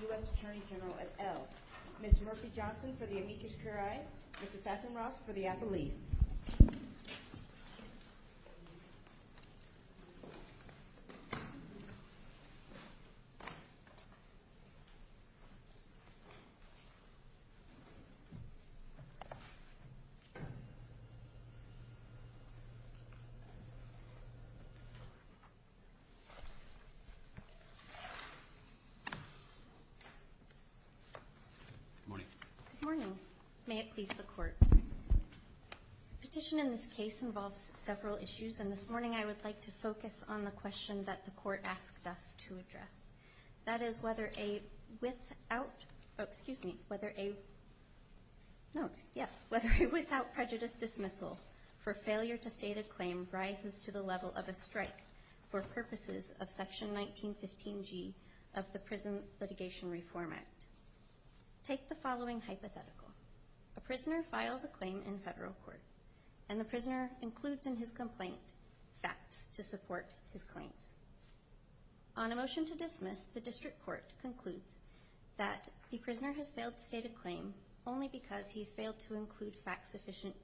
U.S. Attorney General, et al. Ms. Murphy Johnson for the Amicus Curiae, Mr. Fathom Roth for the Appelese. Good morning. Good morning. May it please the Court. The petition in this case involves several issues, and this morning I would like to focus on the question that the Court asked us to address. That is whether a without prejudice dismissal for failure to state a claim rises to the level of a strike for purposes of Section 1915G of the Prison Litigation Reform Act. Take the following hypothetical. A prisoner files a claim in federal court, and the prisoner includes in his complaint facts to support his claims. On a motion to dismiss, the District Court concludes that the prisoner has failed to state a claim only because he has failed to include facts sufficient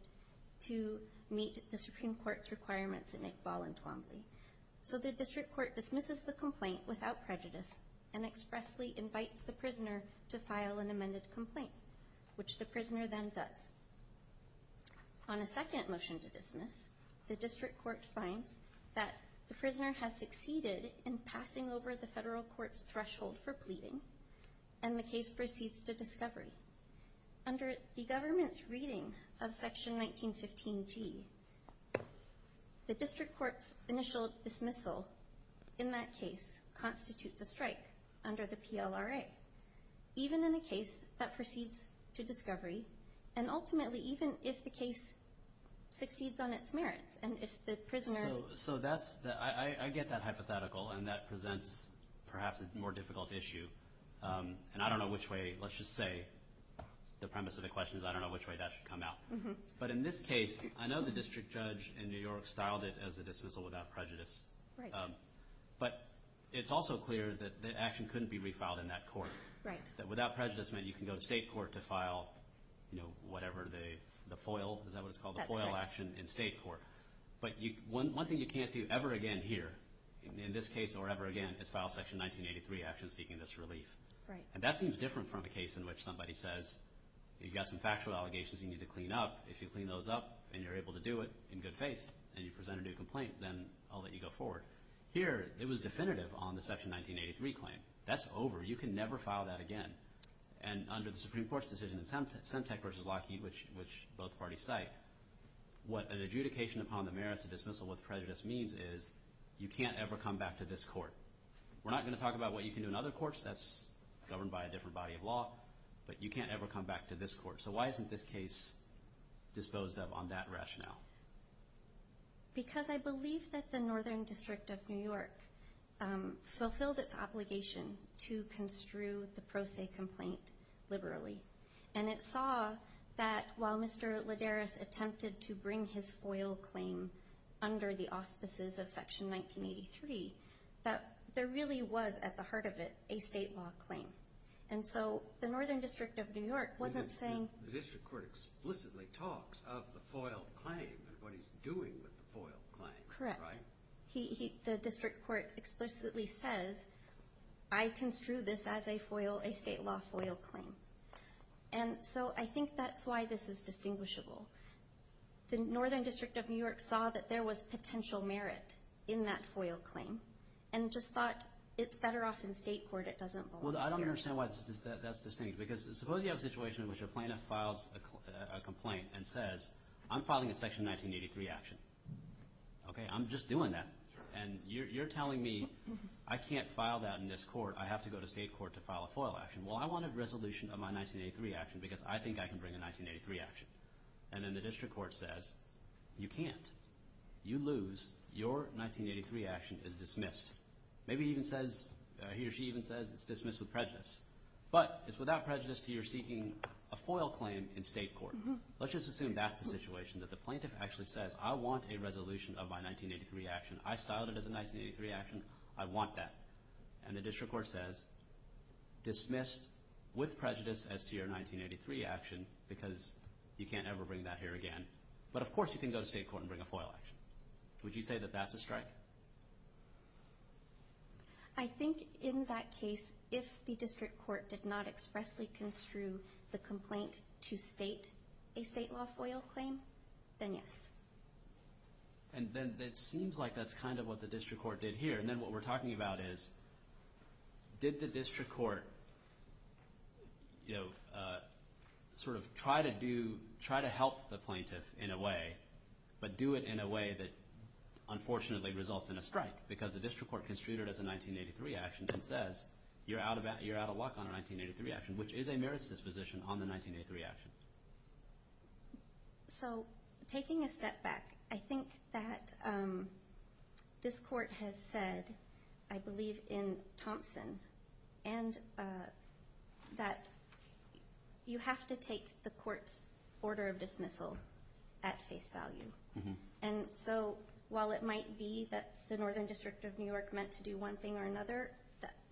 to meet the Supreme Court's requirements at Nickball and Twombly. So the District Court dismisses the complaint without prejudice and expressly invites the prisoner to file an amended complaint, which the prisoner then does. On a second motion to dismiss, the District Court finds that the prisoner has succeeded in passing over the federal court's threshold for pleading, and the case proceeds to discovery. Under the government's reading of Section 1915G, the District Court's initial dismissal in that case constitutes a strike under the PLRA. Even in a case that proceeds to discovery, and ultimately even if the case succeeds on its merits, and if the prisoner... So that's the... I get that hypothetical, and that presents perhaps a more difficult issue. And I don't know which way... Let's just say the premise of the question is I don't know which way that should come out. But in this case, I know the district judge in New York styled it as a dismissal without prejudice. But it's also clear that the action couldn't be refiled in that court. That without prejudice meant you can go to state court to file, you know, whatever the FOIL... Is that what it's called? The FOIL action in state court. But one thing you can't do ever again here, in this case or ever again, is file Section 1983 action seeking this relief. And that seems different from a case in which somebody says you've got some factual allegations you need to clean up. If you clean those up, and you're able to do it in good faith, and you present a new complaint, then I'll let you go forward. Here, it was definitive on the Section 1983 claim. That's over. You can never file that again. And under the Supreme Court's decision in Semtec v. Lockheed, which both parties cite, what an adjudication upon the merits of dismissal with prejudice means is you can't ever come back to this court. We're not going to talk about what you can do in other courts. That's governed by a different body of law. But you can't ever come back to this court. So why isn't this case disposed of on that rationale? Because I believe that the Northern District of New York fulfilled its obligation to construe the Pro Se complaint liberally. And it saw that while Mr. Lederes attempted to bring his FOIL claim under the auspices of Section 1983, that there really was, at the heart of it, a state law claim. And so the Northern District of New York wasn't saying… The district court explicitly talks of the FOIL claim and what he's doing with the FOIL claim. Correct. Right? The district court explicitly says, I construe this as a state law FOIL claim. And so I think that's why this is distinguishable. The Northern District of New York saw that there was potential merit in that FOIL claim and just thought it's better off in state court. It doesn't belong here. Well, I don't understand why that's distinguished. Because suppose you have a situation in which a plaintiff files a complaint and says, I'm filing a Section 1983 action. Okay? I'm just doing that. And you're telling me I can't file that in this court. I have to go to state court to file a FOIL action. Well, I want a resolution of my 1983 action because I think I can bring a 1983 action. And then the district court says, you can't. You lose. Your 1983 action is dismissed. Maybe he or she even says it's dismissed with prejudice. But it's without prejudice to your seeking a FOIL claim in state court. Let's just assume that's the situation, that the plaintiff actually says, I want a resolution of my 1983 action. I styled it as a 1983 action. I want that. And the district court says, dismissed with prejudice as to your 1983 action because you can't ever bring that here again. But, of course, you can go to state court and bring a FOIL action. Would you say that that's a strike? I think in that case, if the district court did not expressly construe the complaint to state a state law FOIL claim, then yes. And then it seems like that's kind of what the district court did here. And then what we're talking about is, did the district court, you know, sort of try to help the plaintiff in a way, but do it in a way that unfortunately results in a strike because the district court construed it as a 1983 action and says, you're out of luck on a 1983 action, which is a merits disposition on the 1983 action. So taking a step back, I think that this court has said, I believe in Thompson, and that you have to take the court's order of dismissal at face value. And so while it might be that the Northern District of New York meant to do one thing or another,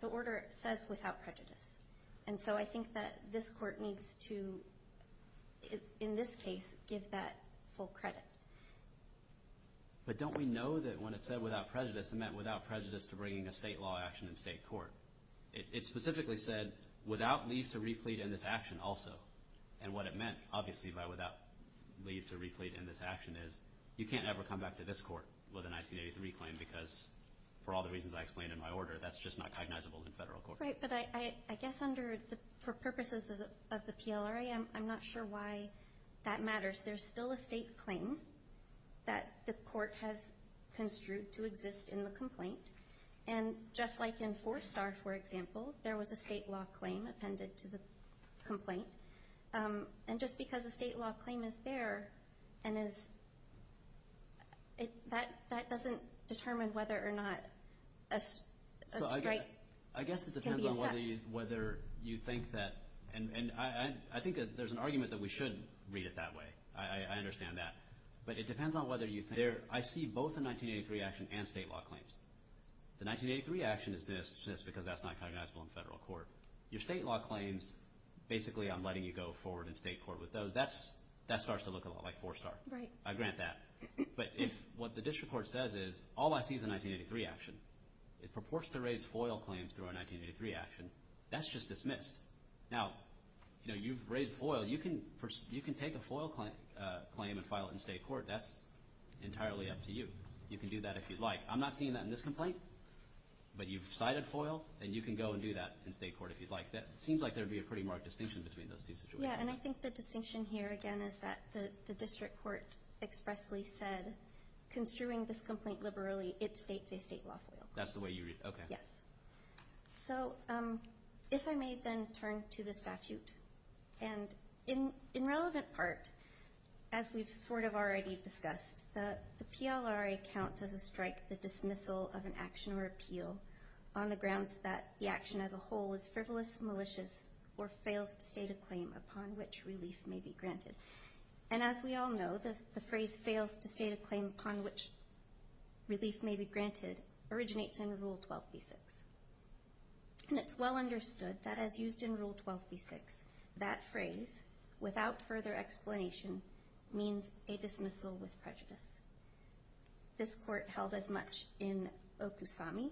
the order says without prejudice. And so I think that this court needs to, in this case, give that full credit. But don't we know that when it said without prejudice, it meant without prejudice to bringing a state law action in state court. It specifically said without leave to replete in this action also. And what it meant, obviously, by without leave to replete in this action, is you can't ever come back to this court with a 1983 claim because, for all the reasons I explained in my order, that's just not cognizable in federal court. Right. But I guess for purposes of the PLRA, I'm not sure why that matters. There's still a state claim that the court has construed to exist in the complaint. And just like in Four Star, for example, there was a state law claim appended to the complaint. And just because a state law claim is there and is – that doesn't determine whether or not a strike can be assessed. It depends on whether you think that – and I think there's an argument that we should read it that way. I understand that. But it depends on whether you think – I see both a 1983 action and state law claims. The 1983 action is this because that's not cognizable in federal court. Your state law claims, basically I'm letting you go forward in state court with those. That starts to look a lot like Four Star. Right. I grant that. But if what the district court says is all I see is a 1983 action, it purports to raise FOIL claims through a 1983 action, that's just dismissed. Now, you've raised FOIL. You can take a FOIL claim and file it in state court. That's entirely up to you. You can do that if you'd like. I'm not seeing that in this complaint. But you've cited FOIL, and you can go and do that in state court if you'd like. It seems like there would be a pretty marked distinction between those two situations. Yeah, and I think the distinction here, again, is that the district court expressly said, construing this complaint liberally, it states a state law FOIL claim. That's the way you read it? Okay. Yes. So if I may then turn to the statute. And in relevant part, as we've sort of already discussed, the PLRA counts as a strike the dismissal of an action or appeal on the grounds that the action as a whole is frivolous, malicious, or fails to state a claim upon which relief may be granted. And as we all know, the phrase fails to state a claim upon which relief may be granted originates in Rule 12b-6. And it's well understood that as used in Rule 12b-6, that phrase, without further explanation, means a dismissal with prejudice. This court held as much in Okusami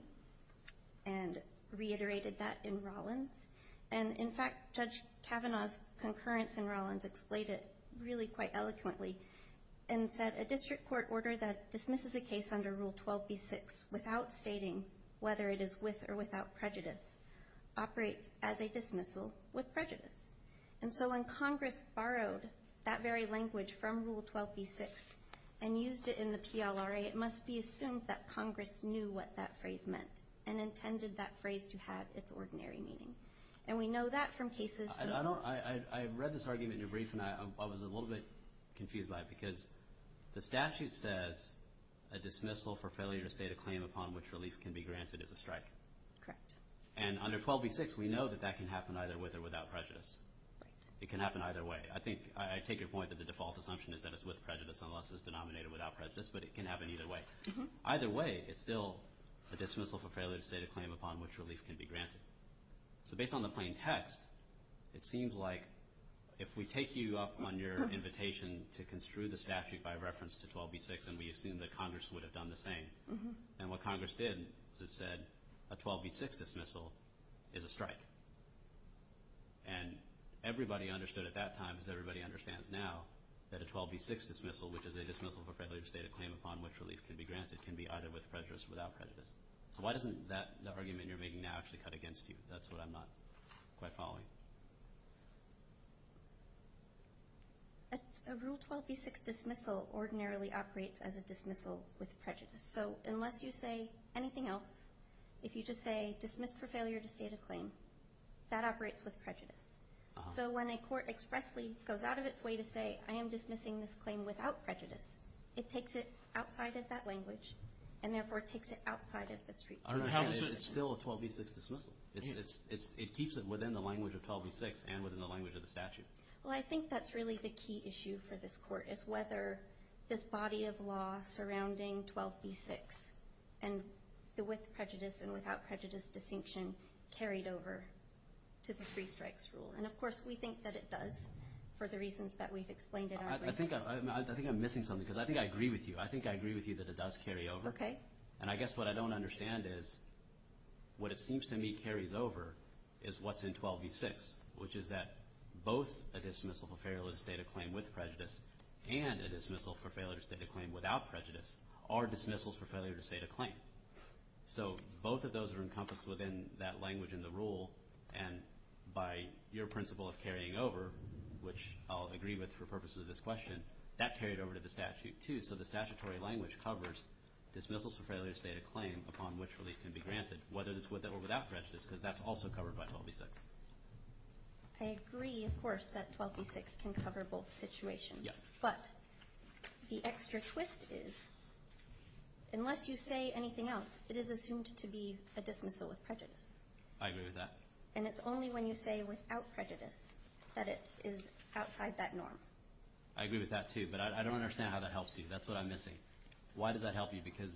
and reiterated that in Rollins. And, in fact, Judge Kavanaugh's concurrence in Rollins explained it really quite eloquently and said a district court order that dismisses a case under Rule 12b-6 without stating whether it is with or without prejudice operates as a dismissal with prejudice. And so when Congress borrowed that very language from Rule 12b-6 and used it in the PLRA, it must be assumed that Congress knew what that phrase meant and intended that phrase to have its ordinary meaning. And we know that from cases from the... I read this argument in your brief, and I was a little bit confused by it because the statute says a dismissal for failure to state a claim upon which relief can be granted is a strike. Correct. And under 12b-6, we know that that can happen either with or without prejudice. Right. It can happen either way. I think I take your point that the default assumption is that it's with prejudice unless it's denominated without prejudice, but it can happen either way. Either way, it's still a dismissal for failure to state a claim upon which relief can be granted. So based on the plain text, it seems like if we take you up on your invitation to construe the statute by reference to 12b-6 and we assume that Congress would have done the same, then what Congress did is it said a 12b-6 dismissal is a strike. And everybody understood at that time, as everybody understands now, that a 12b-6 dismissal, which is a dismissal for failure to state a claim upon which relief can be granted, can be either with prejudice or without prejudice. So why doesn't that argument you're making now actually cut against you? That's what I'm not quite following. A Rule 12b-6 dismissal ordinarily operates as a dismissal with prejudice. So unless you say anything else, if you just say dismiss for failure to state a claim, that operates with prejudice. So when a court expressly goes out of its way to say I am dismissing this claim without prejudice, it takes it outside of that language and therefore takes it outside of the statute. It's still a 12b-6 dismissal. It keeps it within the language of 12b-6 and within the language of the statute. Well, I think that's really the key issue for this court is whether this body of law surrounding 12b-6 and the with prejudice and without prejudice distinction carried over to the Free Strikes Rule. And, of course, we think that it does for the reasons that we've explained in our case. I think I'm missing something because I think I agree with you. I think I agree with you that it does carry over. Okay. And I guess what I don't understand is what it seems to me carries over is what's in 12b-6, which is that both a dismissal for failure to state a claim with prejudice and a dismissal for failure to state a claim without prejudice are dismissals for failure to state a claim. So both of those are encompassed within that language in the rule, and by your principle of carrying over, which I'll agree with for purposes of this question, that carried over to the statute too. So the statutory language covers dismissals for failure to state a claim upon which relief can be granted, whether it's with or without prejudice because that's also covered by 12b-6. I agree, of course, that 12b-6 can cover both situations. But the extra twist is unless you say anything else, it is assumed to be a dismissal with prejudice. I agree with that. And it's only when you say without prejudice that it is outside that norm. I agree with that too, but I don't understand how that helps you. That's what I'm missing. Why does that help you? Because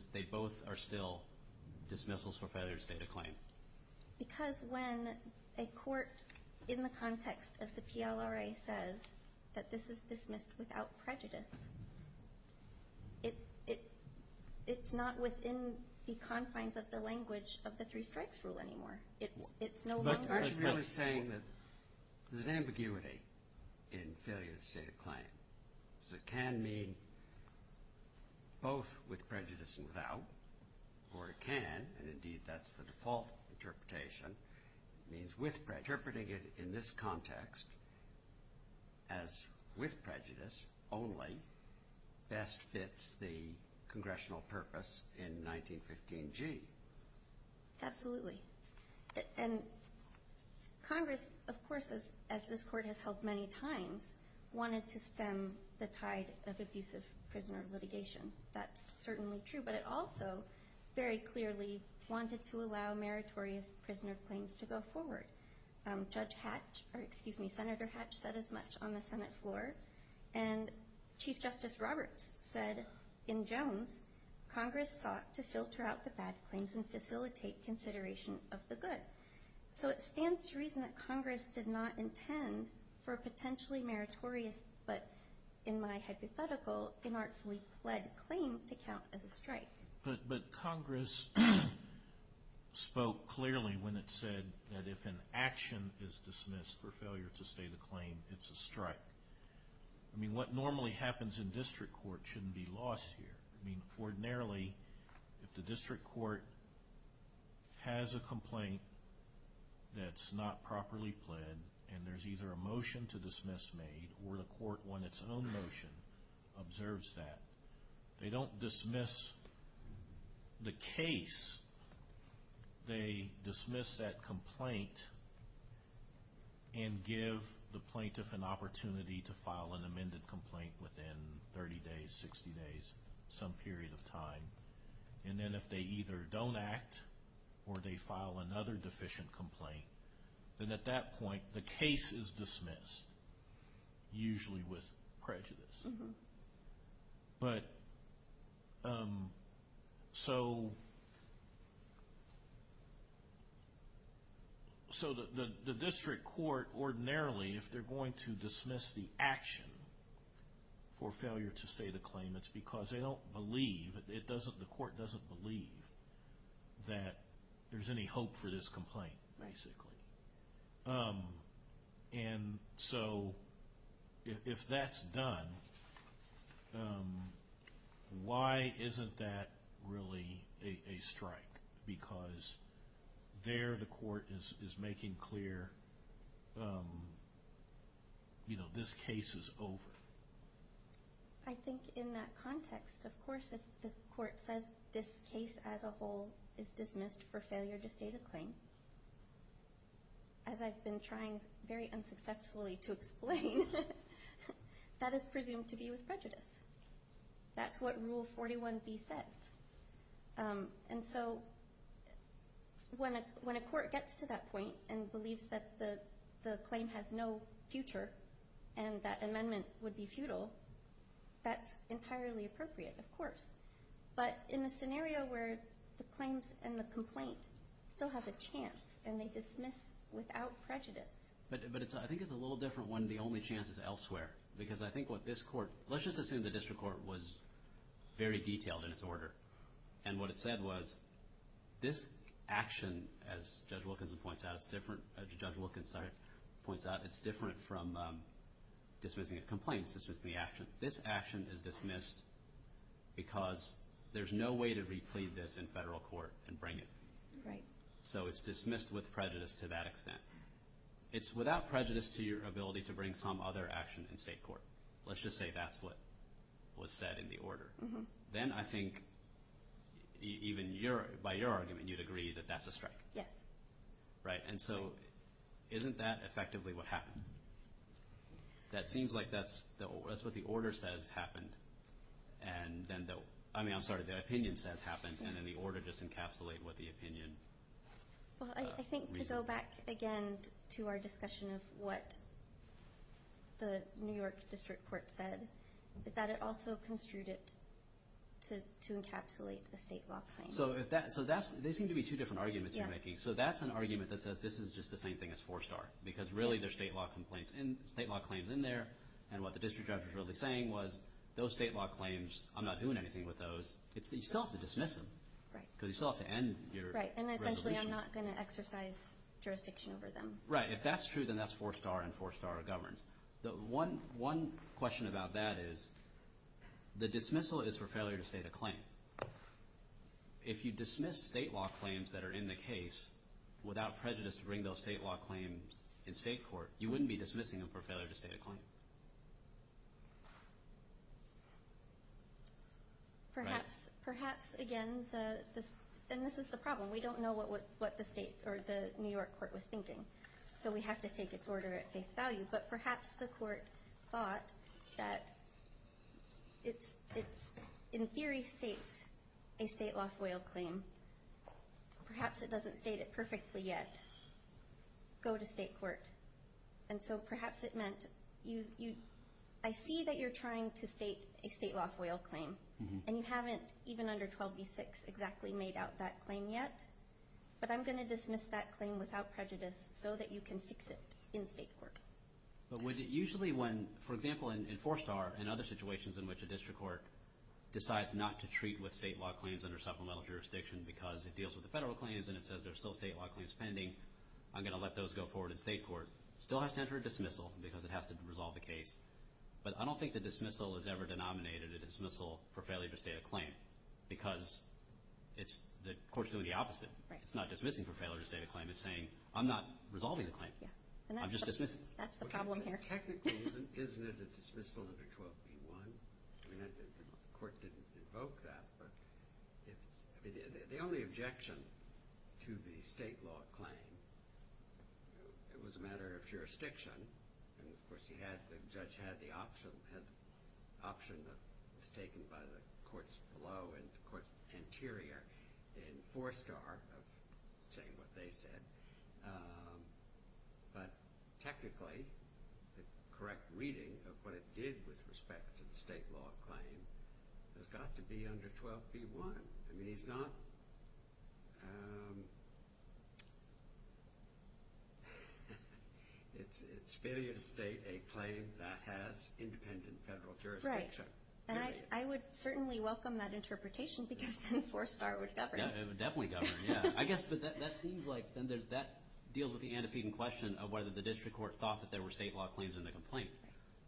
when a court in the context of the PLRA says that this is dismissed without prejudice, it's not within the confines of the language of the three strikes rule anymore. It's no longer a strike rule. But you're really saying that there's an ambiguity in failure to state a claim. So it can mean both with prejudice and without. Or it can, and indeed that's the default interpretation, means with prejudice. Interpreting it in this context as with prejudice only best fits the congressional purpose in 1915G. Absolutely. And Congress, of course, as this court has held many times, wanted to stem the tide of abusive prisoner litigation. That's certainly true. But it also very clearly wanted to allow meritorious prisoner claims to go forward. Judge Hatch, or excuse me, Senator Hatch said as much on the Senate floor. And Chief Justice Roberts said in Jones, Congress sought to filter out the bad claims and facilitate consideration of the good. So it stands to reason that Congress did not intend for a potentially meritorious, but in my hypothetical, inartfully pled claim to count as a strike. But Congress spoke clearly when it said that if an action is dismissed for failure to state a claim, it's a strike. I mean, what normally happens in district court shouldn't be lost here. I mean, ordinarily, if the district court has a complaint that's not properly pled, and there's either a motion to dismiss made or the court won its own motion, observes that. They don't dismiss the case. They dismiss that complaint and give the plaintiff an opportunity to file an amended complaint within 30 days, 60 days, some period of time. And then if they either don't act or they file another deficient complaint, then at that point, the case is dismissed, usually with prejudice. But so the district court, ordinarily, if they're going to dismiss the action for failure to state a claim, it's because they don't believe, the court doesn't believe that there's any hope for this complaint, basically. And so if that's done, why isn't that really a strike? Because there the court is making clear, you know, this case is over. I think in that context, of course, if the court says this case as a whole is dismissed for failure to state a claim, as I've been trying very unsuccessfully to explain, that is presumed to be with prejudice. That's what Rule 41B says. And so when a court gets to that point and believes that the claim has no future and that amendment would be futile, that's entirely appropriate, of course. But in a scenario where the claims and the complaint still have a chance and they dismiss without prejudice. But I think it's a little different when the only chance is elsewhere. Because I think what this court, let's just assume the district court was very detailed in its order. And what it said was, this action, as Judge Wilkinson points out, it's different from dismissing a complaint. It's dismissing the action. This action is dismissed because there's no way to replead this in federal court and bring it. So it's dismissed with prejudice to that extent. It's without prejudice to your ability to bring some other action in state court. Let's just say that's what was said in the order. Then I think even by your argument, you'd agree that that's a strike. Yes. Right. And so isn't that effectively what happened? That seems like that's what the order says happened. And then the – I mean, I'm sorry, the opinion says happened. And then the order just encapsulated what the opinion reasoned. Well, I think to go back again to our discussion of what the New York District Court said, is that it also construed it to encapsulate a state law claim. So they seem to be two different arguments you're making. Yeah. So that's an argument that says this is just the same thing as four-star. Because really they're state law complaints and state law claims in there. And what the district judge was really saying was those state law claims, I'm not doing anything with those. You still have to dismiss them. Right. Because you still have to end your resolution. Right. And essentially I'm not going to exercise jurisdiction over them. Right. If that's true, then that's four-star and four-star governs. One question about that is the dismissal is for failure to state a claim. If you dismiss state law claims that are in the case without prejudice to bring those state law claims in state court, you wouldn't be dismissing them for failure to state a claim. Right. Perhaps, again, this is the problem. We don't know what the New York court was thinking. So we have to take its order at face value. But perhaps the court thought that it in theory states a state law FOIL claim. Perhaps it doesn't state it perfectly yet. Go to state court. And so perhaps it meant I see that you're trying to state a state law FOIL claim. And you haven't even under 12b-6 exactly made out that claim yet. But I'm going to dismiss that claim without prejudice so that you can fix it in state court. But would it usually when, for example, in four-star and other situations in which a district court decides not to treat with state law claims under supplemental jurisdiction because it deals with the federal claims and it says there's still state law claims pending, I'm going to let those go forward in state court, still has to enter a dismissal because it has to resolve the case. But I don't think the dismissal is ever denominated. It's a dismissal for failure to state a claim because the court's doing the opposite. It's not dismissing for failure to state a claim. It's saying I'm not resolving the claim. I'm just dismissing. That's the problem here. Technically, isn't it a dismissal under 12b-1? I mean the court didn't invoke that. But the only objection to the state law claim, it was a matter of jurisdiction. And, of course, the judge had the option that was taken by the courts below and the courts anterior in four-star of saying what they said. But technically, the correct reading of what it did with respect to the state law claim has got to be under 12b-1. I mean it's not. It's failure to state a claim that has independent federal jurisdiction. Right. And I would certainly welcome that interpretation because then four-star would govern. It would definitely govern, yeah. I guess that seems like then that deals with the antecedent question of whether the district court thought that there were state law claims in the complaint.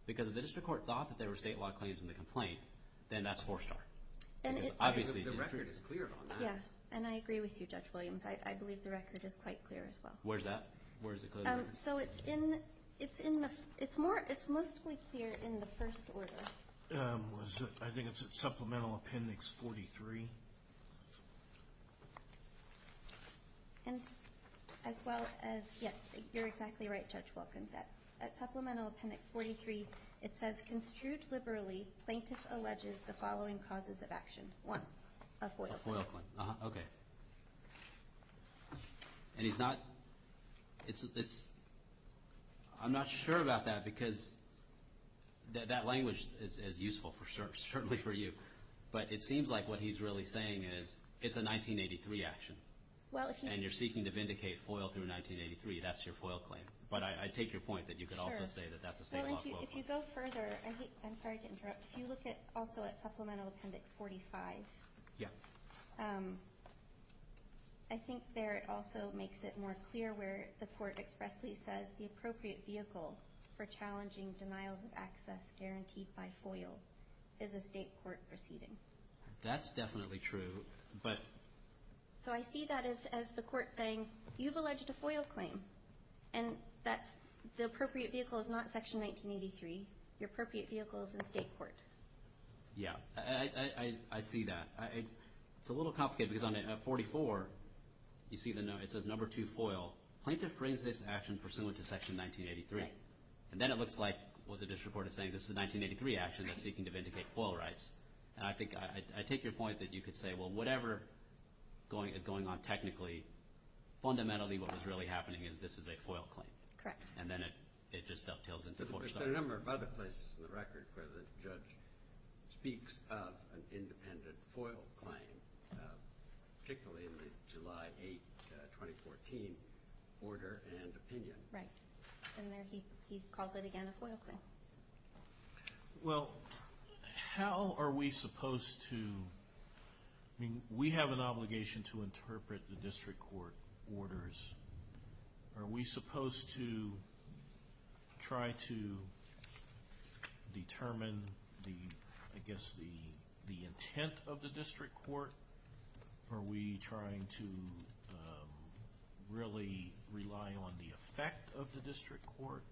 Because if the district court thought that there were state law claims in the complaint, then that's four-star. The record is clear on that. Yeah, and I agree with you, Judge Williams. I believe the record is quite clear as well. Where is that? Where is it clear? So it's mostly clear in the first order. I think it's at Supplemental Appendix 43. And as well as, yes, you're exactly right, Judge Wilkins. At Supplemental Appendix 43, it says, Construed liberally, plaintiff alleges the following causes of action. One, a FOIL claim. A FOIL claim. Okay. And he's not, it's, I'm not sure about that because that language is useful certainly for you. But it seems like what he's really saying is it's a 1983 action. And you're seeking to vindicate FOIL through 1983. That's your FOIL claim. But I take your point that you could also say that that's a state law FOIL claim. If you go further, I'm sorry to interrupt. If you look also at Supplemental Appendix 45. Yeah. I think there it also makes it more clear where the court expressly says the appropriate vehicle for challenging denials of access guaranteed by FOIL is a state court proceeding. That's definitely true, but. So I see that as the court saying, you've alleged a FOIL claim. And that's, the appropriate vehicle is not Section 1983. Your appropriate vehicle is a state court. Yeah. I see that. It's a little complicated because on 44, you see it says, Number 2, FOIL. Plaintiff brings this action pursuant to Section 1983. Right. And then it looks like what the district court is saying, this is a 1983 action that's seeking to vindicate FOIL rights. And I think, I take your point that you could say, well, whatever is going on technically, fundamentally what was really happening is this is a FOIL claim. Correct. And then it just dovetails into 4. But there are a number of other places in the record where the judge speaks of an independent FOIL claim, particularly in the July 8, 2014, order and opinion. Right. And there he calls it, again, a FOIL claim. Well, how are we supposed to, I mean, we have an obligation to interpret the district court orders. Are we supposed to try to determine, I guess, the intent of the district court? Are we trying to really rely on the effect of the district court?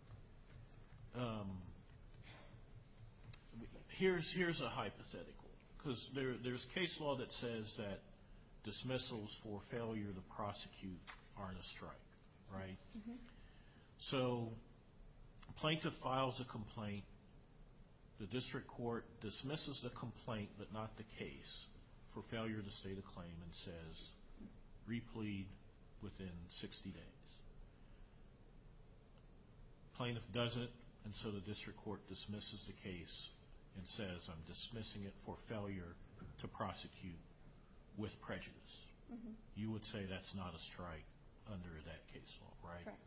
Here's a hypothetical. Because there's case law that says that dismissals for failure to prosecute aren't a strike, right? So plaintiff files a complaint. The district court dismisses the complaint, but not the case, for failure to state a claim and says, replead within 60 days. Plaintiff does it, and so the district court dismisses the case and says, I'm dismissing it for failure to prosecute with prejudice. You would say that's not a strike under that case law, right? Correct.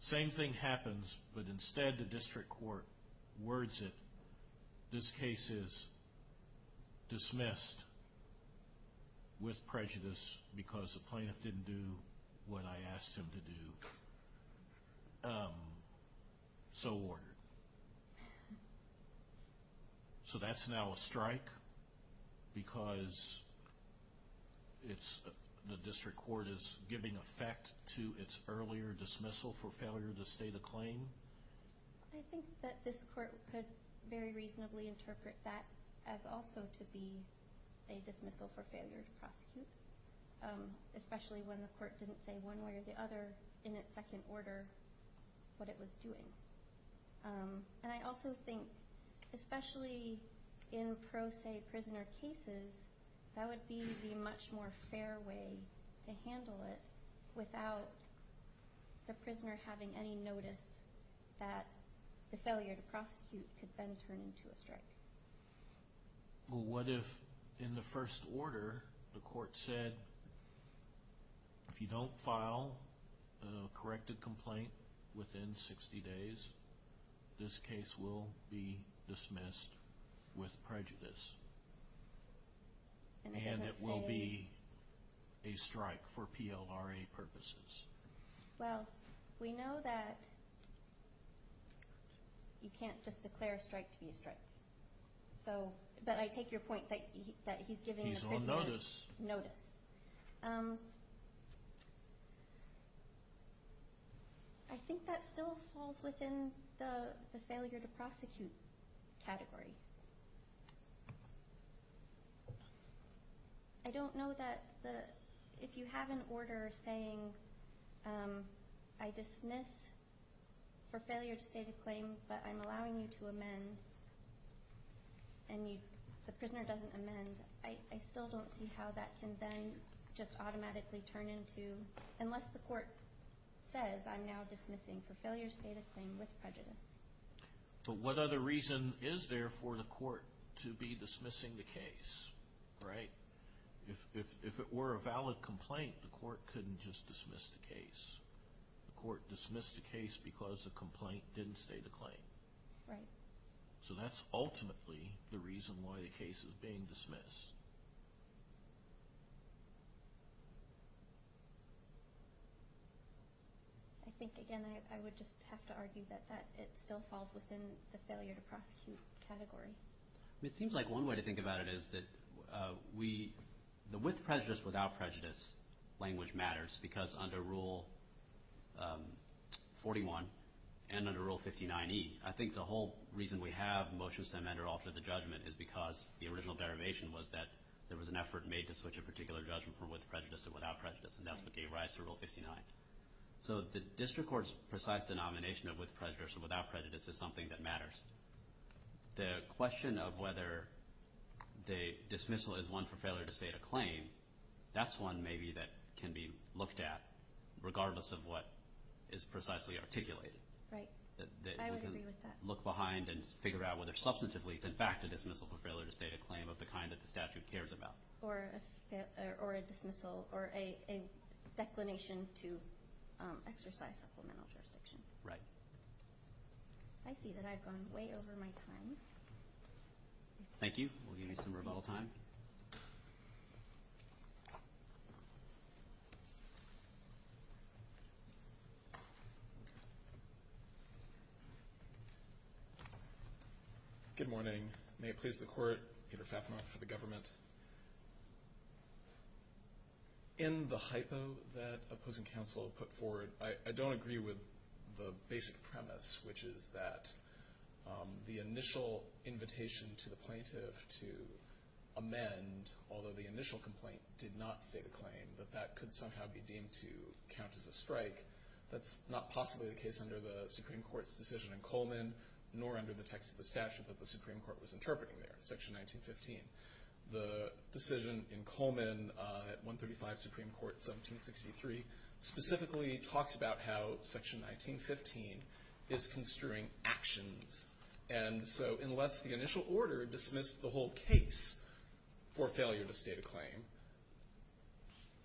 Same thing happens, but instead the district court words it, this case is dismissed with prejudice because the plaintiff didn't do what I asked him to do. So ordered. So that's now a strike because the district court is giving effect to its earlier dismissal for failure to state a claim? I think that this court could very reasonably interpret that as also to be a dismissal for failure to prosecute, especially when the court didn't say one way or the other in its second order what it was doing. And I also think, especially in pro se prisoner cases, that would be the much more fair way to handle it without the prisoner having any notice that the failure to prosecute could then turn into a strike. Well, what if in the first order the court said, if you don't file a corrected complaint within 60 days, this case will be dismissed with prejudice. And it doesn't say? And it will be a strike for PLRA purposes. Well, we know that you can't just declare a strike to be a strike. But I take your point that he's giving the prisoner notice. He's on notice. Okay. I think that still falls within the failure to prosecute category. I don't know that if you have an order saying, I dismiss for failure to state a claim but I'm allowing you to amend and the prisoner doesn't amend, I still don't see how that can then just automatically turn into, unless the court says, I'm now dismissing for failure to state a claim with prejudice. But what other reason is there for the court to be dismissing the case, right? If it were a valid complaint, the court couldn't just dismiss the case. The court dismissed the case because the complaint didn't state a claim. Right. So that's ultimately the reason why the case is being dismissed. I think, again, I would just have to argue that it still falls within the failure to prosecute category. It seems like one way to think about it is that with prejudice, without prejudice, language matters because under Rule 41 and under Rule 59E, I think the whole reason we have motions to amend or alter the judgment is because the original derivation was that there was an effort made to switch a particular judgment from with prejudice to without prejudice, and that's what gave rise to Rule 59. So the district court's precise denomination of with prejudice or without prejudice is something that matters. The question of whether the dismissal is one for failure to state a claim, that's one maybe that can be looked at, regardless of what is precisely articulated. Right. I would agree with that. Look behind and figure out whether substantively it's in fact a dismissal for failure to state a claim of the kind that the statute cares about. Or a dismissal or a declination to exercise supplemental jurisdiction. Right. I see that I've gone way over my time. Thank you. We'll give you some rebuttal time. Good morning. May it please the Court, Peter Fafner for the government. In the hypo that opposing counsel put forward, I don't agree with the basic premise, which is that the initial invitation to the plaintiff to amend, although the initial complaint did not state a claim, that that could somehow be deemed to count as a strike. That's not possibly the case under the Supreme Court's decision in Coleman, nor under the text of the statute that the Supreme Court was interpreting there, section 1915. The decision in Coleman at 135 Supreme Court, 1763, specifically talks about how section 1915 is construing actions. And so unless the initial order dismissed the whole case for failure to state a claim,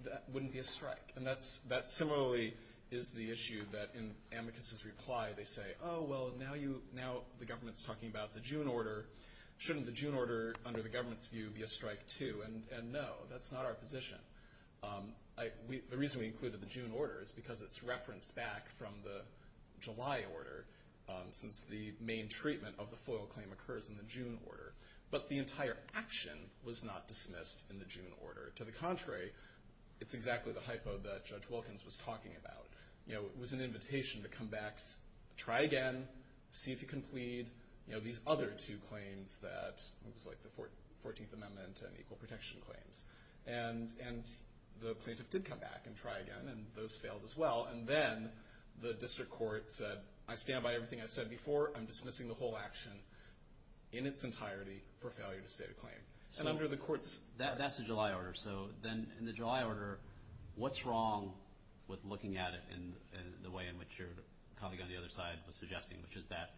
that wouldn't be a strike. And that similarly is the issue that in Amicus's reply they say, oh, well, now the government's talking about the June order. Shouldn't the June order, under the government's view, be a strike too? And no, that's not our position. The reason we included the June order is because it's referenced back from the July order, since the main treatment of the FOIL claim occurs in the June order. But the entire action was not dismissed in the June order. To the contrary, it's exactly the hypo that Judge Wilkins was talking about. It was an invitation to come back, try again, see if you can plead, these other two claims that it was like the 14th Amendment and equal protection claims. And the plaintiff did come back and try again, and those failed as well. And then the district court said, I stand by everything I said before. I'm dismissing the whole action in its entirety for failure to state a claim. So that's the July order. So then in the July order, what's wrong with looking at it in the way in which your colleague on the other side was suggesting, which is that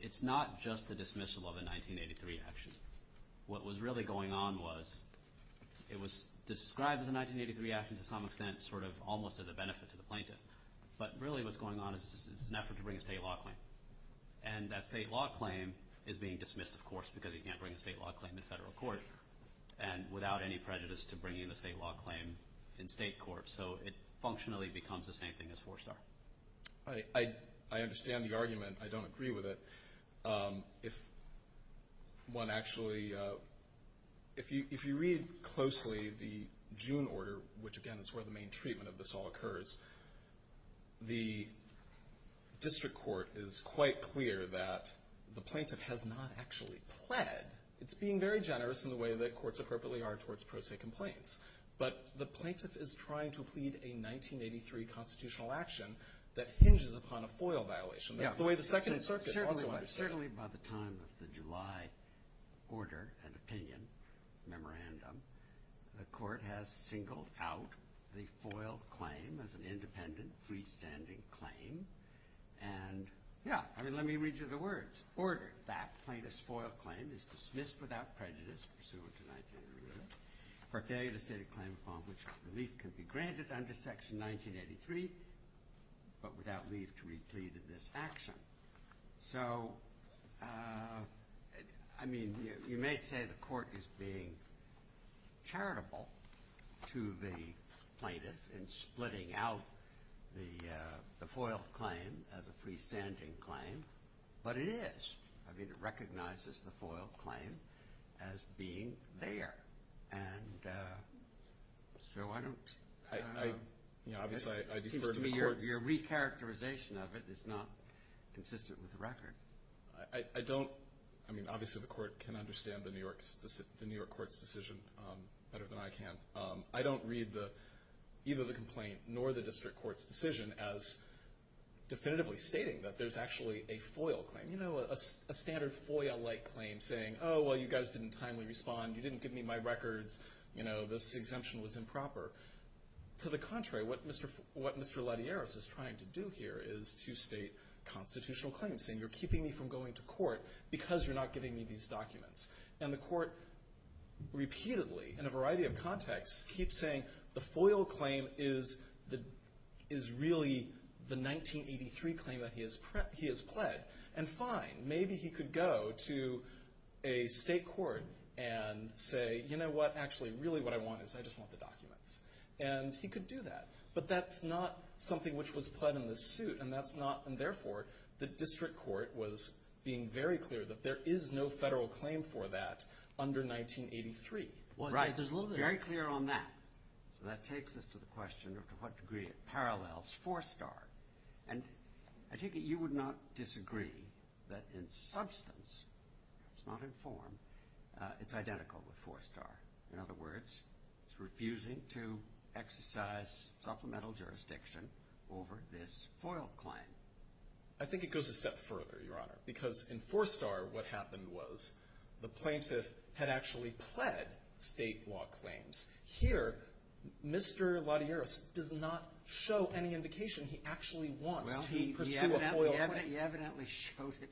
it's not just the dismissal of a 1983 action. What was really going on was it was described as a 1983 action to some extent, sort of almost as a benefit to the plaintiff. But really what's going on is it's an effort to bring a state law claim. And that state law claim is being dismissed, of course, because you can't bring a state law claim in federal court, and without any prejudice to bringing the state law claim in state court. So it functionally becomes the same thing as four-star. I understand the argument. I don't agree with it. If one actually, if you read closely the June order, which, again, is where the main treatment of this all occurs, the district court is quite clear that the plaintiff has not actually pled. It's being very generous in the way that courts appropriately are towards pro se complaints. But the plaintiff is trying to plead a 1983 constitutional action that hinges upon a FOIL violation. That's the way the Second Circuit also understood it. Order, an opinion, memorandum. The court has singled out the FOIL claim as an independent, freestanding claim. And, yeah, I mean, let me read you the words. Order. That plaintiff's FOIL claim is dismissed without prejudice pursuant to 1983 for failure to state a claim upon which relief can be granted under Section 1983 but without leave to replead this action. So, I mean, you may say the court is being charitable to the plaintiff in splitting out the FOIL claim as a freestanding claim. But it is. I mean, it recognizes the FOIL claim as being there. And so I don't. Your recharacterization of it is not consistent with the record. I don't. I mean, obviously the court can understand the New York court's decision better than I can. I don't read either the complaint nor the district court's decision as definitively stating that there's actually a FOIL claim. You know, a standard FOIL-like claim saying, oh, well, you guys didn't timely respond. You didn't give me my records. You know, this exemption was improper. To the contrary, what Mr. Lattieris is trying to do here is to state constitutional claims, saying you're keeping me from going to court because you're not giving me these documents. And the court repeatedly, in a variety of contexts, keeps saying the FOIL claim is really the 1983 claim that he has pled. And fine, maybe he could go to a state court and say, you know what? Actually, really what I want is I just want the documents. And he could do that. But that's not something which was pled in the suit, and that's not, and therefore, the district court was being very clear that there is no federal claim for that under 1983. Right. Very clear on that. So that takes us to the question of to what degree it parallels Four Star. And I take it you would not disagree that in substance, it's not in form, it's identical with Four Star. In other words, it's refusing to exercise supplemental jurisdiction over this FOIL claim. I think it goes a step further, Your Honor, because in Four Star what happened was the plaintiff had actually pled state law claims. Here, Mr. Ladieres does not show any indication he actually wants to pursue a FOIL claim. Well, he evidently showed it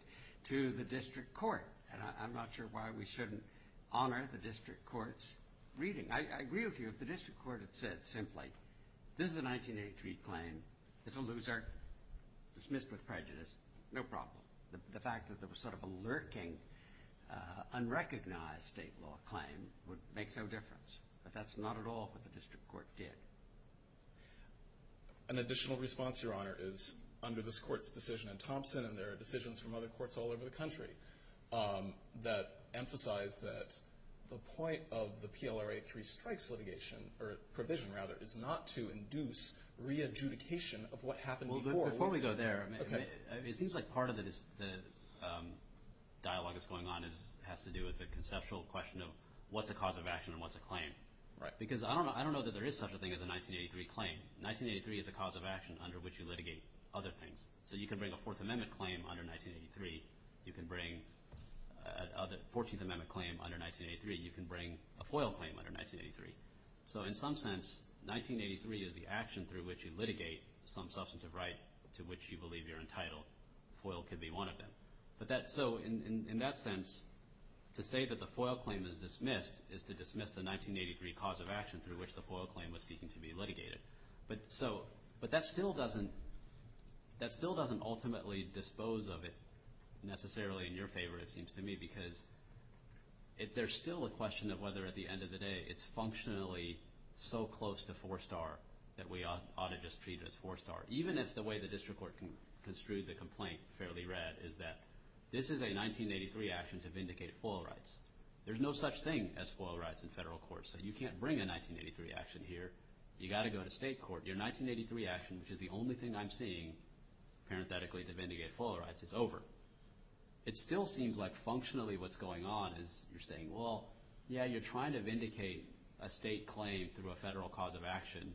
to the district court. And I'm not sure why we shouldn't honor the district court's reading. I agree with you. If the district court had said simply, this is a 1983 claim, it's a loser, dismissed with prejudice, no problem. The fact that there was sort of a lurking, unrecognized state law claim would make no difference. But that's not at all what the district court did. An additional response, Your Honor, is under this court's decision in Thompson, and there are decisions from other courts all over the country that emphasize that the point of the PLRA 3 strikes litigation, or provision rather, is not to induce re-adjudication of what happened before. Before we go there, it seems like part of the dialogue that's going on has to do with the conceptual question of what's a cause of action and what's a claim. Right. Because I don't know that there is such a thing as a 1983 claim. 1983 is a cause of action under which you litigate other things. So you can bring a Fourth Amendment claim under 1983. You can bring a Fourteenth Amendment claim under 1983. You can bring a FOIL claim under 1983. So in some sense, 1983 is the action through which you litigate some substantive right to which you believe you're entitled. FOIL could be one of them. So in that sense, to say that the FOIL claim is dismissed is to dismiss the 1983 cause of action through which the FOIL claim was seeking to be litigated. But that still doesn't ultimately dispose of it necessarily in your favor, it seems to me, because there's still a question of whether at the end of the day it's functionally so close to four-star that we ought to just treat it as four-star. Even if the way the district court construed the complaint fairly read is that this is a 1983 action to vindicate FOIL rights. There's no such thing as FOIL rights in federal court. So you can't bring a 1983 action here. You've got to go to state court. Your 1983 action, which is the only thing I'm seeing parenthetically to vindicate FOIL rights, is over. It still seems like functionally what's going on is you're saying, well, yeah, you're trying to vindicate a state claim through a federal cause of action.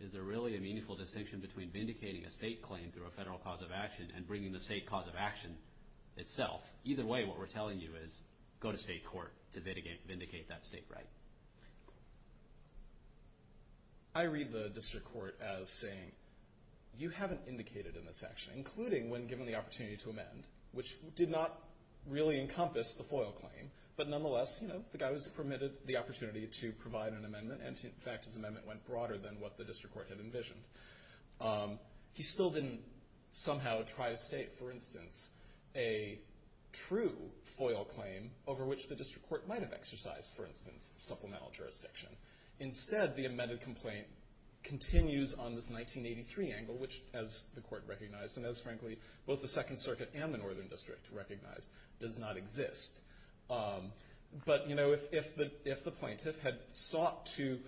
Is there really a meaningful distinction between vindicating a state claim through a federal cause of action and bringing the state cause of action itself? Either way, what we're telling you is go to state court to vindicate that state right. I read the district court as saying, you haven't indicated in this action, including when given the opportunity to amend, which did not really encompass the FOIL claim, but nonetheless, you know, the guy was permitted the opportunity to provide an amendment, and, in fact, his amendment went broader than what the district court had envisioned. He still didn't somehow try to state, for instance, a true FOIL claim over which the district court might have exercised, for instance, supplemental jurisdiction. Instead, the amended complaint continues on this 1983 angle, which, as the court recognized, and as, frankly, both the Second Circuit and the Northern District recognized, does not exist. But, you know, if the plaintiff had sought to,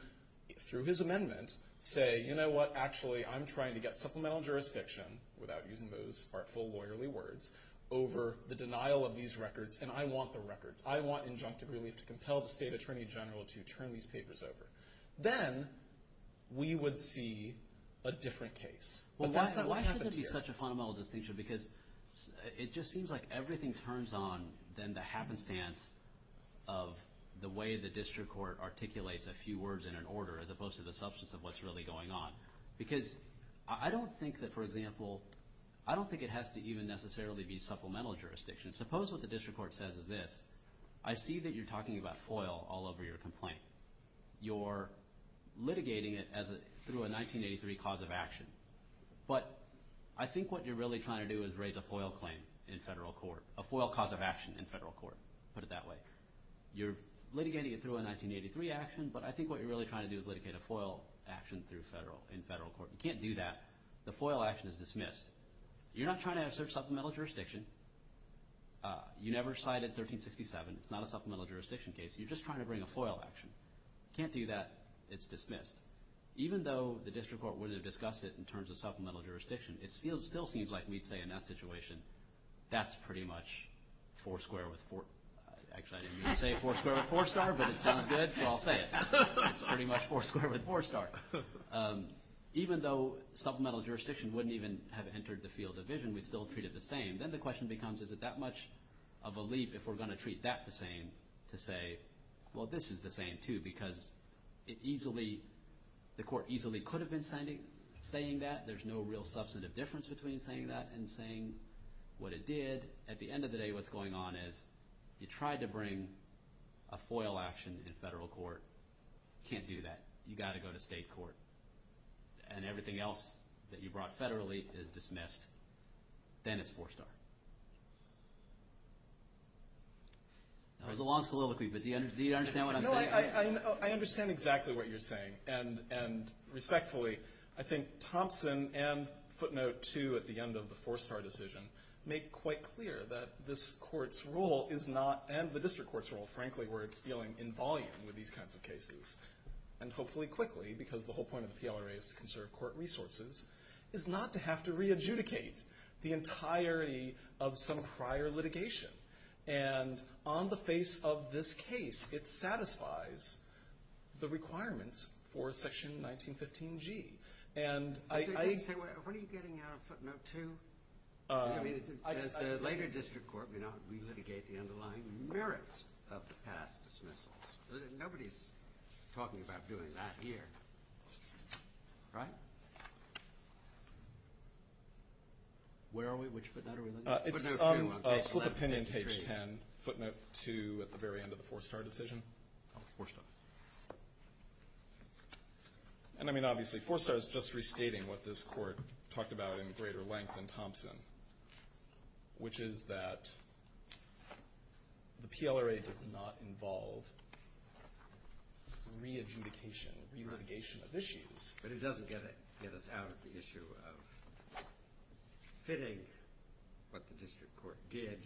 through his amendment, say, you know what, actually I'm trying to get supplemental jurisdiction, without using those artful lawyerly words, over the denial of these records, and I want the records. I want injunctive relief to compel the state attorney general to turn these papers over. Then we would see a different case. But that's not what happened here. Well, why should there be such a fundamental distinction? Because it just seems like everything turns on than the happenstance of the way the district court articulates a few words in an order, as opposed to the substance of what's really going on. Because I don't think that, for example, I don't think it has to even necessarily be supplemental jurisdiction. Suppose what the district court says is this. I see that you're talking about FOIL all over your complaint. You're litigating it through a 1983 cause of action. But I think what you're really trying to do is raise a FOIL claim in federal court, a FOIL cause of action in federal court. Put it that way. You're litigating it through a 1983 action, but I think what you're really trying to do is litigate a FOIL action in federal court. You can't do that. The FOIL action is dismissed. You're not trying to assert supplemental jurisdiction. You never cited 1367. It's not a supplemental jurisdiction case. You're just trying to bring a FOIL action. You can't do that. It's dismissed. Even though the district court wouldn't have discussed it in terms of supplemental jurisdiction, it still seems like we'd say in that situation that's pretty much four square with four. Actually, I didn't mean to say four square with four star, but it sounded good, so I'll say it. It's pretty much four square with four star. Even though supplemental jurisdiction wouldn't even have entered the field of vision, we'd still treat it the same. Then the question becomes is it that much of a leap if we're going to treat that the same to say, well, this is the same too, because the court easily could have been saying that. There's no real substantive difference between saying that and saying what it did. At the end of the day, what's going on is you tried to bring a FOIL action in federal court. You can't do that. You've got to go to state court, and everything else that you brought federally is dismissed. Then it's four star. That was a long soliloquy, but do you understand what I'm saying? No, I understand exactly what you're saying, and respectfully, I think Thompson and footnote two at the end of the four star decision make quite clear that this court's role is not, and the district court's role, frankly, where it's dealing in volume with these kinds of cases, and hopefully quickly because the whole point of the PLRA is to conserve court resources, is not to have to re-adjudicate the entirety of some prior litigation. On the face of this case, it satisfies the requirements for section 1915G. When are you getting out of footnote two? I mean, it says the later district court may not re-litigate the underlying merits of the past dismissals. Nobody's talking about doing that here. Right? Where are we? Which footnote are we looking at? Footnote two on page 11. It's slip of pinion page 10, footnote two at the very end of the four star decision. Oh, four star. And, I mean, obviously four star is just restating what this court talked about in greater length in Thompson, which is that the PLRA does not involve re-adjudication, re-litigation of issues. But it doesn't get us out of the issue of fitting what the district court did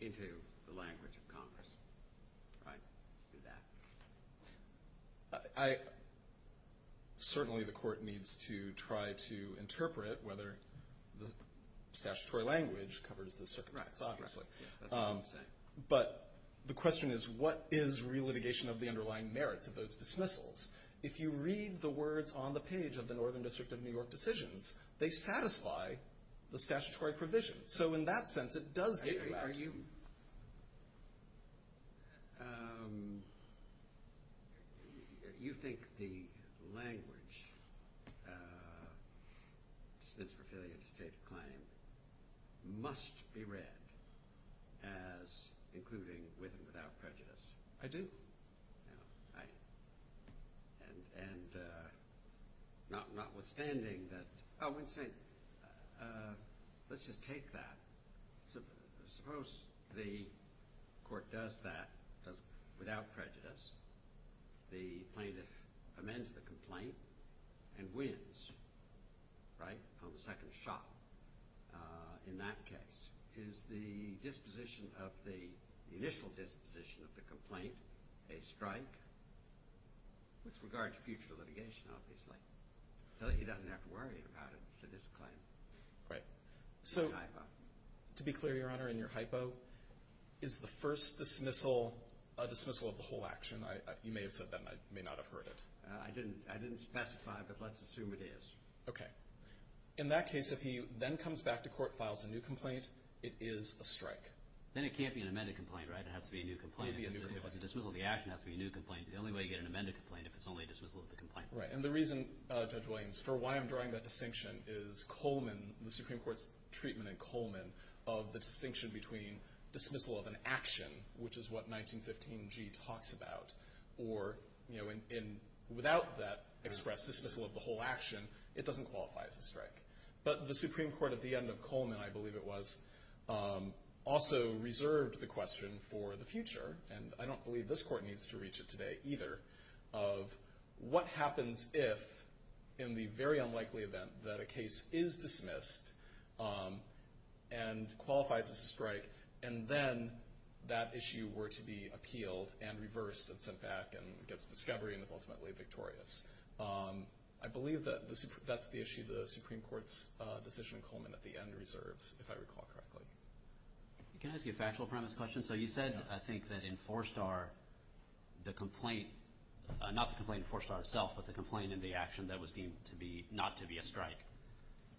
into the language of Congress. Certainly the court needs to try to interpret whether the statutory language covers the circumstances, obviously. But the question is what is re-litigation of the underlying merits of those dismissals? If you read the words on the page of the Northern District of New York decisions, they satisfy the statutory provision. So in that sense it does get you out. Are you – you think the language, dismiss for failure to state a claim, must be read as including with and without prejudice? I do. And notwithstanding that – oh, let's just take that. Suppose the court does that without prejudice. The plaintiff amends the complaint and wins, right, on the second shot in that case. Is the disposition of the – the initial disposition of the complaint a strike? With regard to future litigation, obviously. So he doesn't have to worry about it for this claim. Right. So to be clear, Your Honor, in your hypo, is the first dismissal a dismissal of the whole action? You may have said that and I may not have heard it. I didn't specify, but let's assume it is. Okay. In that case, if he then comes back to court, files a new complaint, it is a strike. Then it can't be an amended complaint, right? It has to be a new complaint. It would be a new complaint. If it's a dismissal of the action, it has to be a new complaint. The only way you get an amended complaint is if it's only a dismissal of the complaint. Right. And the reason, Judge Williams, for why I'm drawing that distinction is Coleman, the Supreme Court's treatment in Coleman, of the distinction between dismissal of an action, which is what 1915G talks about, or without that express dismissal of the whole action, it doesn't qualify as a strike. But the Supreme Court at the end of Coleman, I believe it was, also reserved the question for the future, and I don't believe this court needs to reach it today either, of what happens if, in the very unlikely event that a case is dismissed and qualifies as a strike, and then that issue were to be appealed and reversed and sent back and gets discovery and is ultimately victorious. I believe that that's the issue the Supreme Court's decision in Coleman at the end reserves, if I recall correctly. Can I ask you a factual premise question? So you said, I think, that in Four Star, the complaint, not the complaint in Four Star itself, but the complaint in the action that was deemed not to be a strike,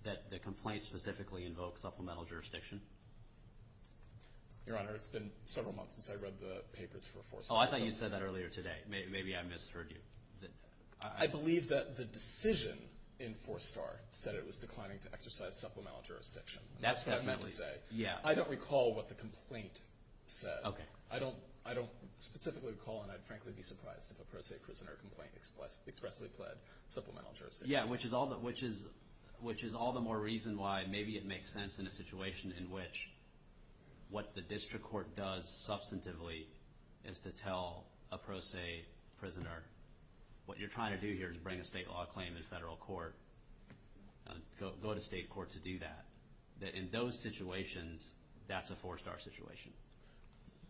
that the complaint specifically invokes supplemental jurisdiction? Your Honor, it's been several months since I read the papers for Four Star. Oh, I thought you said that earlier today. Maybe I misheard you. I believe that the decision in Four Star said it was declining to exercise supplemental jurisdiction. That's what I meant to say. Yeah. I don't recall what the complaint said. Okay. I don't specifically recall, and I'd frankly be surprised if a pro se prisoner complaint expressly pled supplemental jurisdiction. Yeah, which is all the more reason why maybe it makes sense in a situation in which what the district court does substantively is to tell a pro se prisoner, what you're trying to do here is bring a state law claim in federal court. Go to state court to do that. In those situations, that's a Four Star situation.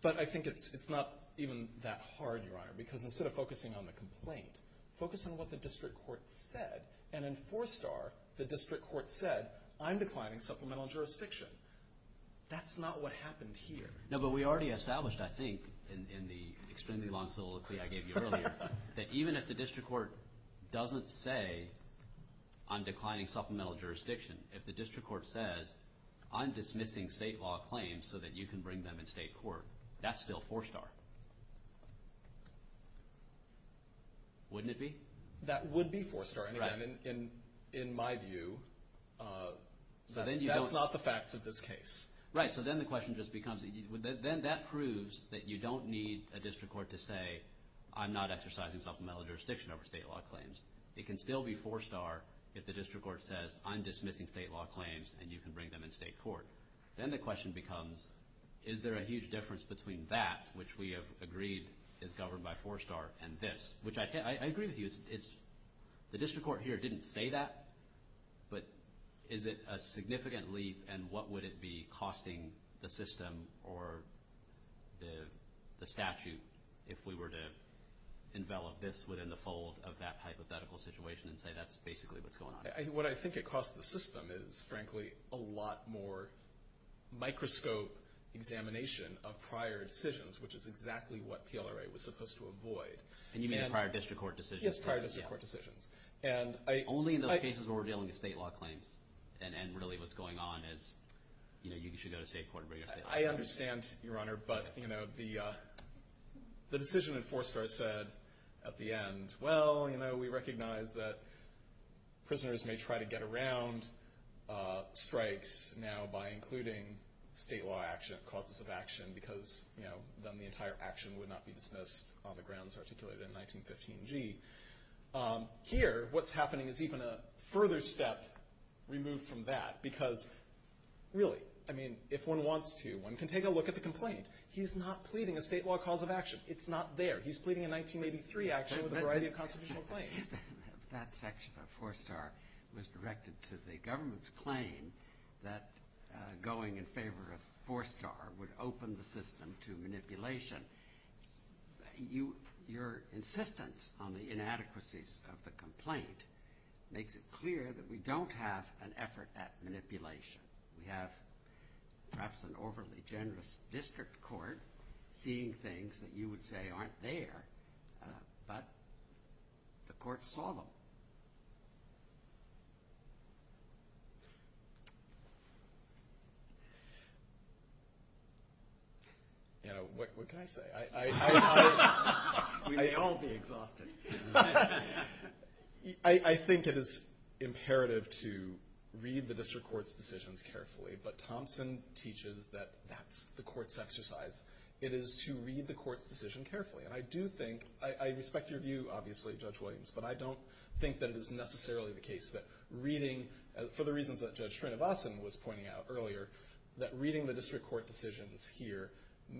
But I think it's not even that hard, Your Honor, because instead of focusing on the complaint, focus on what the district court said. And in Four Star, the district court said, I'm declining supplemental jurisdiction. That's not what happened here. No, but we already established, I think, in the extremely long soliloquy I gave you earlier, that even if the district court doesn't say, I'm declining supplemental jurisdiction, if the district court says, I'm dismissing state law claims so that you can bring them in state court, that's still Four Star. Wouldn't it be? That would be Four Star. And again, in my view, that's not the facts of this case. Right. So then the question just becomes, then that proves that you don't need a district court to say, I'm not exercising supplemental jurisdiction over state law claims. It can still be Four Star if the district court says, I'm dismissing state law claims, and you can bring them in state court. Then the question becomes, is there a huge difference between that, which we have agreed is governed by Four Star, and this, which I agree with you. The district court here didn't say that. But is it a significant leap, and what would it be costing the system or the statute if we were to envelop this within the fold of that hypothetical situation and say that's basically what's going on? What I think it costs the system is, frankly, a lot more microscope examination of prior decisions, which is exactly what PLRA was supposed to avoid. And you mean prior district court decisions? Yes, prior district court decisions. Only in those cases where we're dealing with state law claims, and really what's going on is you should go to state court and bring your state law claims in. I understand, Your Honor, but the decision in Four Star said at the end, well, we recognize that prisoners may try to get around strikes now by including state law causes of action because then the entire action would not be dismissed on the grounds articulated in 1915G. Here, what's happening is even a further step removed from that because, really, I mean, if one wants to, one can take a look at the complaint. He's not pleading a state law cause of action. It's not there. He's pleading a 1983 action with a variety of constitutional claims. That section of Four Star was directed to the government's claim that going in favor of Four Star would open the system to manipulation. Your insistence on the inadequacies of the complaint makes it clear that we don't have an effort at manipulation. We have perhaps an overly generous district court seeing things that you would say aren't there, but the court saw them. You know, what can I say? We may all be exhausted. I think it is imperative to read the district court's decisions carefully, but Thompson teaches that that's the court's exercise. It is to read the court's decision carefully, and I do think, I respect your view, obviously, Judge Williams, but I don't think that it is necessarily the case that reading, for the reasons that Judge Trinivasan was pointing out earlier, that reading the district court decisions here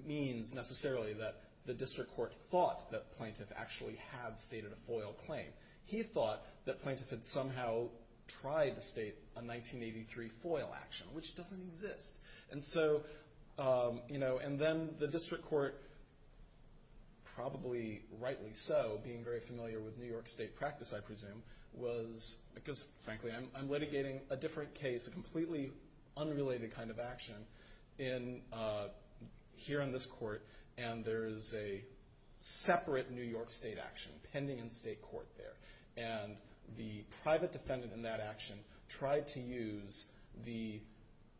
means necessarily that the district court thought that Plaintiff actually had stated a FOIL claim. He thought that Plaintiff had somehow tried to state a 1983 FOIL action, which doesn't exist. And so, you know, and then the district court, probably rightly so, being very familiar with New York state practice, I presume, because, frankly, I'm litigating a different case, a completely unrelated kind of action here in this court, and there is a separate New York state action pending in state court there. And the private defendant in that action tried to use the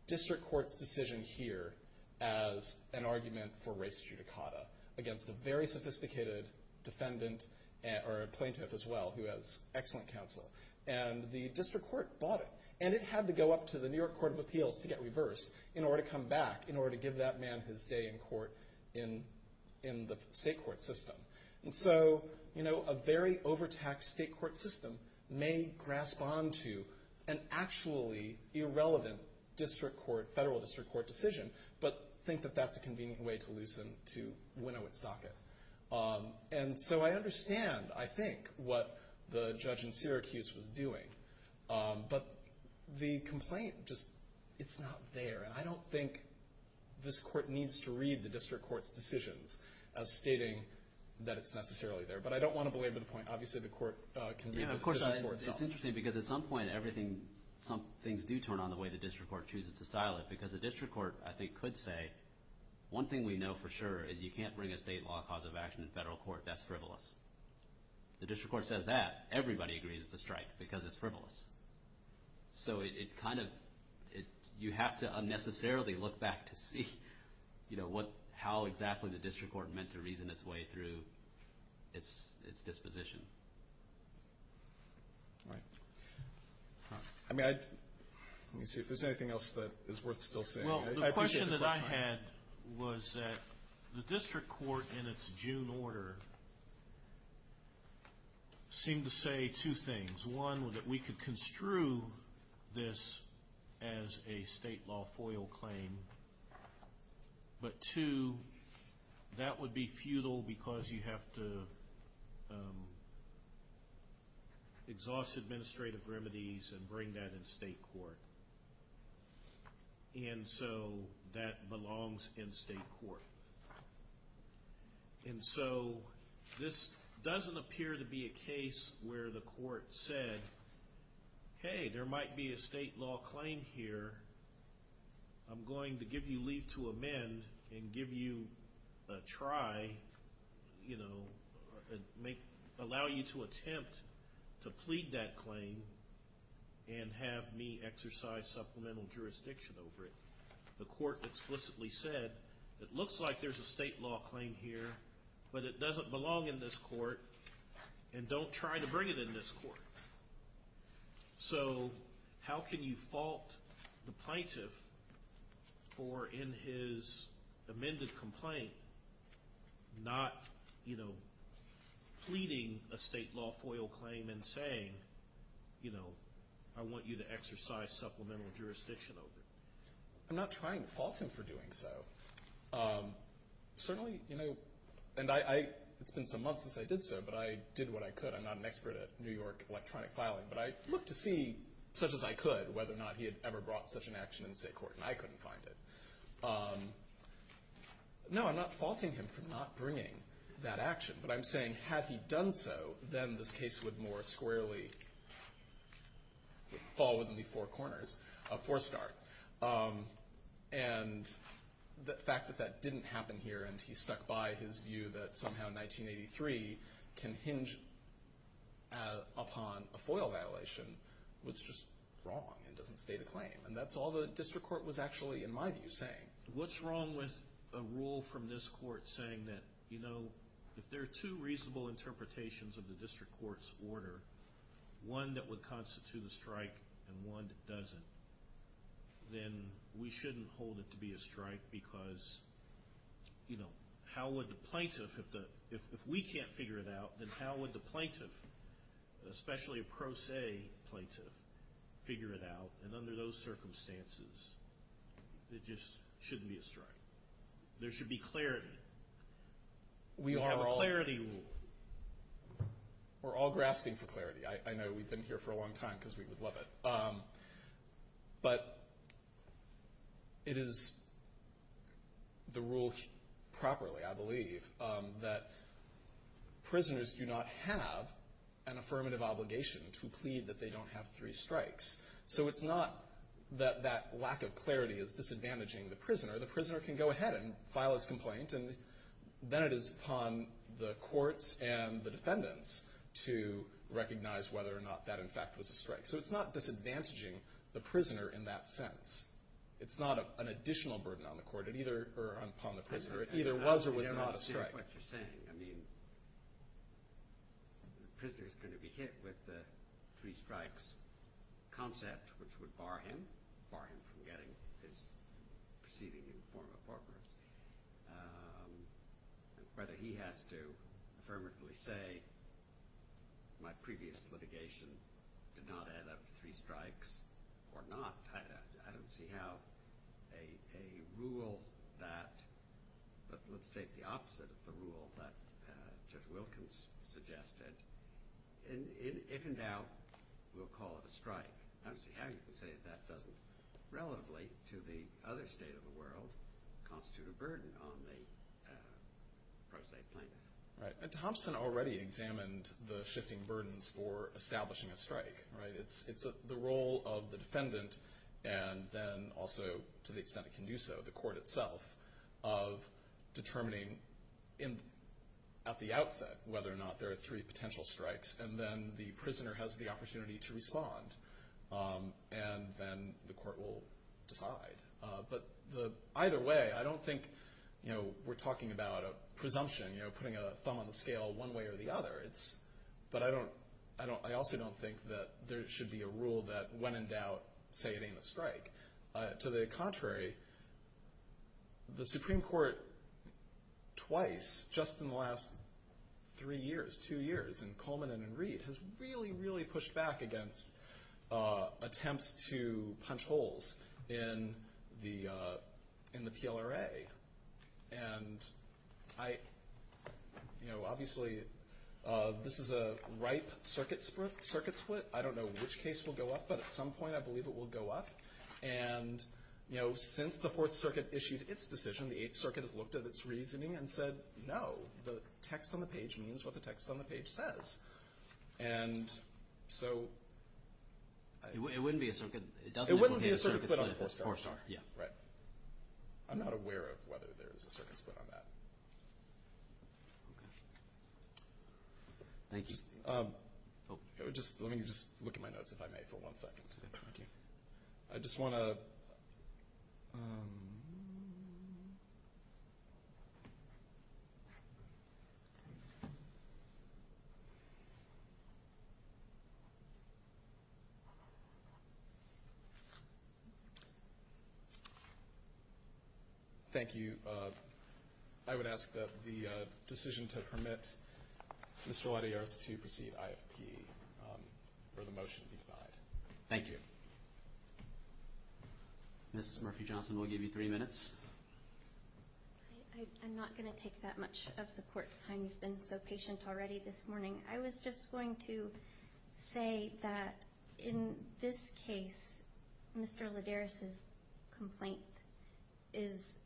district court's decision here as an argument for race judicata against a very sophisticated defendant, or a plaintiff as well, who has excellent counsel, and the district court bought it. And it had to go up to the New York Court of Appeals to get reversed in order to come back, in order to give that man his day in court in the state court system. And so, you know, a very overtaxed state court system may grasp onto an actually irrelevant district court, federal district court decision, but think that that's a convenient way to loosen, to winnow its docket. And so I understand, I think, what the judge in Syracuse was doing, but the complaint just, it's not there. And I don't think this court needs to read the district court's decisions as stating that it's necessarily there. But I don't want to belabor the point. Obviously, the court can make the decisions for itself. Yeah, of course, it's interesting, because at some point, everything, some things do turn on the way the district court chooses to style it, because the district court, I think, could say, one thing we know for sure is you can't bring a state law cause of action in federal court. That's frivolous. The district court says that. Everybody agrees it's a strike because it's frivolous. So it kind of, you have to unnecessarily look back to see, you know, how exactly the district court meant to reason its way through its disposition. Right. I mean, let me see if there's anything else that is worth still saying. Well, the question that I had was that the district court in its June order seemed to say two things. One, that we could construe this as a state law FOIL claim. But two, that would be futile because you have to exhaust administrative remedies and bring that in state court. And so that belongs in state court. And so this doesn't appear to be a case where the court said, hey, there might be a state law claim here. I'm going to give you leave to amend and give you a try, you know, allow you to attempt to plead that claim and have me exercise supplemental jurisdiction over it. The court explicitly said, it looks like there's a state law claim here, but it doesn't belong in this court and don't try to bring it in this court. So how can you fault the plaintiff for, in his amended complaint, not, you know, pleading a state law FOIL claim and saying, you know, I want you to exercise supplemental jurisdiction over it? I'm not trying to fault him for doing so. Certainly, you know, and it's been some months since I did so, but I did what I could. I'm not an expert at New York electronic filing, but I looked to see, such as I could, whether or not he had ever brought such an action in state court, and I couldn't find it. No, I'm not faulting him for not bringing that action. But I'm saying, had he done so, then this case would more squarely fall within the four corners, a four-star. And the fact that that didn't happen here, and he stuck by his view that somehow 1983 can hinge upon a FOIL violation, was just wrong and doesn't state a claim. And that's all the district court was actually, in my view, saying. What's wrong with a rule from this court saying that, you know, if there are two reasonable interpretations of the district court's order, one that would constitute a strike and one that doesn't, then we shouldn't hold it to be a strike because, you know, how would the plaintiff, if we can't figure it out, then how would the plaintiff, especially a pro se plaintiff, figure it out? And under those circumstances, it just shouldn't be a strike. There should be clarity. We have a clarity rule. We're all grasping for clarity. I know we've been here for a long time because we would love it. But it is the rule properly, I believe, that prisoners do not have an affirmative obligation to plead that they don't have three strikes. So it's not that that lack of clarity is disadvantaging the prisoner. The prisoner can go ahead and file his complaint, and then it is upon the courts and the defendants to recognize whether or not that, in fact, was a strike. So it's not disadvantaging the prisoner in that sense. It's not an additional burden on the court or upon the prisoner. It either was or was not a strike. That's what you're saying. I mean the prisoner is going to be hit with the three strikes concept, which would bar him, bar him from getting his proceeding in the form of forfeits. Whether he has to affirmatively say my previous litigation did not add up to three strikes or not, I don't see how a rule that, let's take the opposite of the rule that Judge Wilkins suggested. If in doubt, we'll call it a strike. I don't see how you can say that doesn't, relatively to the other state of the world, constitute a burden on the pro se plaintiff. Thompson already examined the shifting burdens for establishing a strike. It's the role of the defendant and then also to the extent it can do so, the court itself, of determining at the outset whether or not there are three potential strikes and then the prisoner has the opportunity to respond. And then the court will decide. But either way, I don't think we're talking about a presumption, putting a thumb on the scale one way or the other. But I also don't think that there should be a rule that when in doubt, say it ain't a strike. To the contrary, the Supreme Court twice, just in the last three years, two years, in Coleman and in Reed, has really, really pushed back against attempts to punch holes in the PLRA. And obviously this is a ripe circuit split. I don't know which case will go up, but at some point I believe it will go up. And since the Fourth Circuit issued its decision, the Eighth Circuit has looked at its reasoning and said, no, the text on the page means what the text on the page says. And so it wouldn't be a circuit split on the Fourth Circuit. Right. I'm not aware of whether there is a circuit split on that. Thank you. Let me just look at my notes, if I may, for one second. I just want to. Thank you. I would ask that the decision to permit Mr. Lidares to proceed IFP for the motion to be denied. Thank you. Ms. Murphy-Johnson, we'll give you three minutes. I'm not going to take that much of the court's time. You've been so patient already this morning. I was just going to say that in this case, Mr. Lidares' complaint is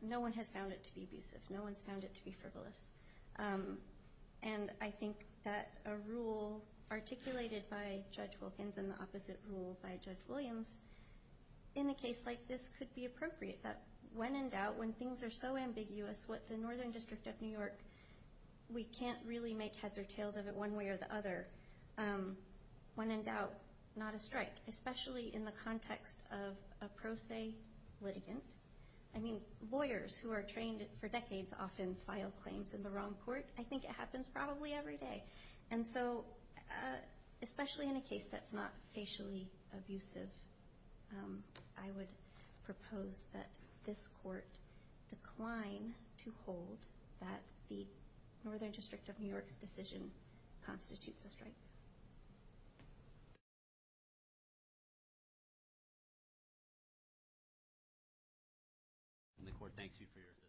no one has found it to be abusive. No one's found it to be frivolous. And I think that a rule articulated by Judge Wilkins and the opposite rule by Judge Williams, in a case like this could be appropriate, that when in doubt, when things are so ambiguous, what the Northern District of New York, we can't really make heads or tails of it one way or the other, when in doubt, not a strike, especially in the context of a pro se litigant. I mean, lawyers who are trained for decades often file claims in the wrong court. I think it happens probably every day. And so especially in a case that's not facially abusive, I would propose that this court decline to hold that the Northern District of New York's decision constitutes a strike. And the court thanks you for your assistance.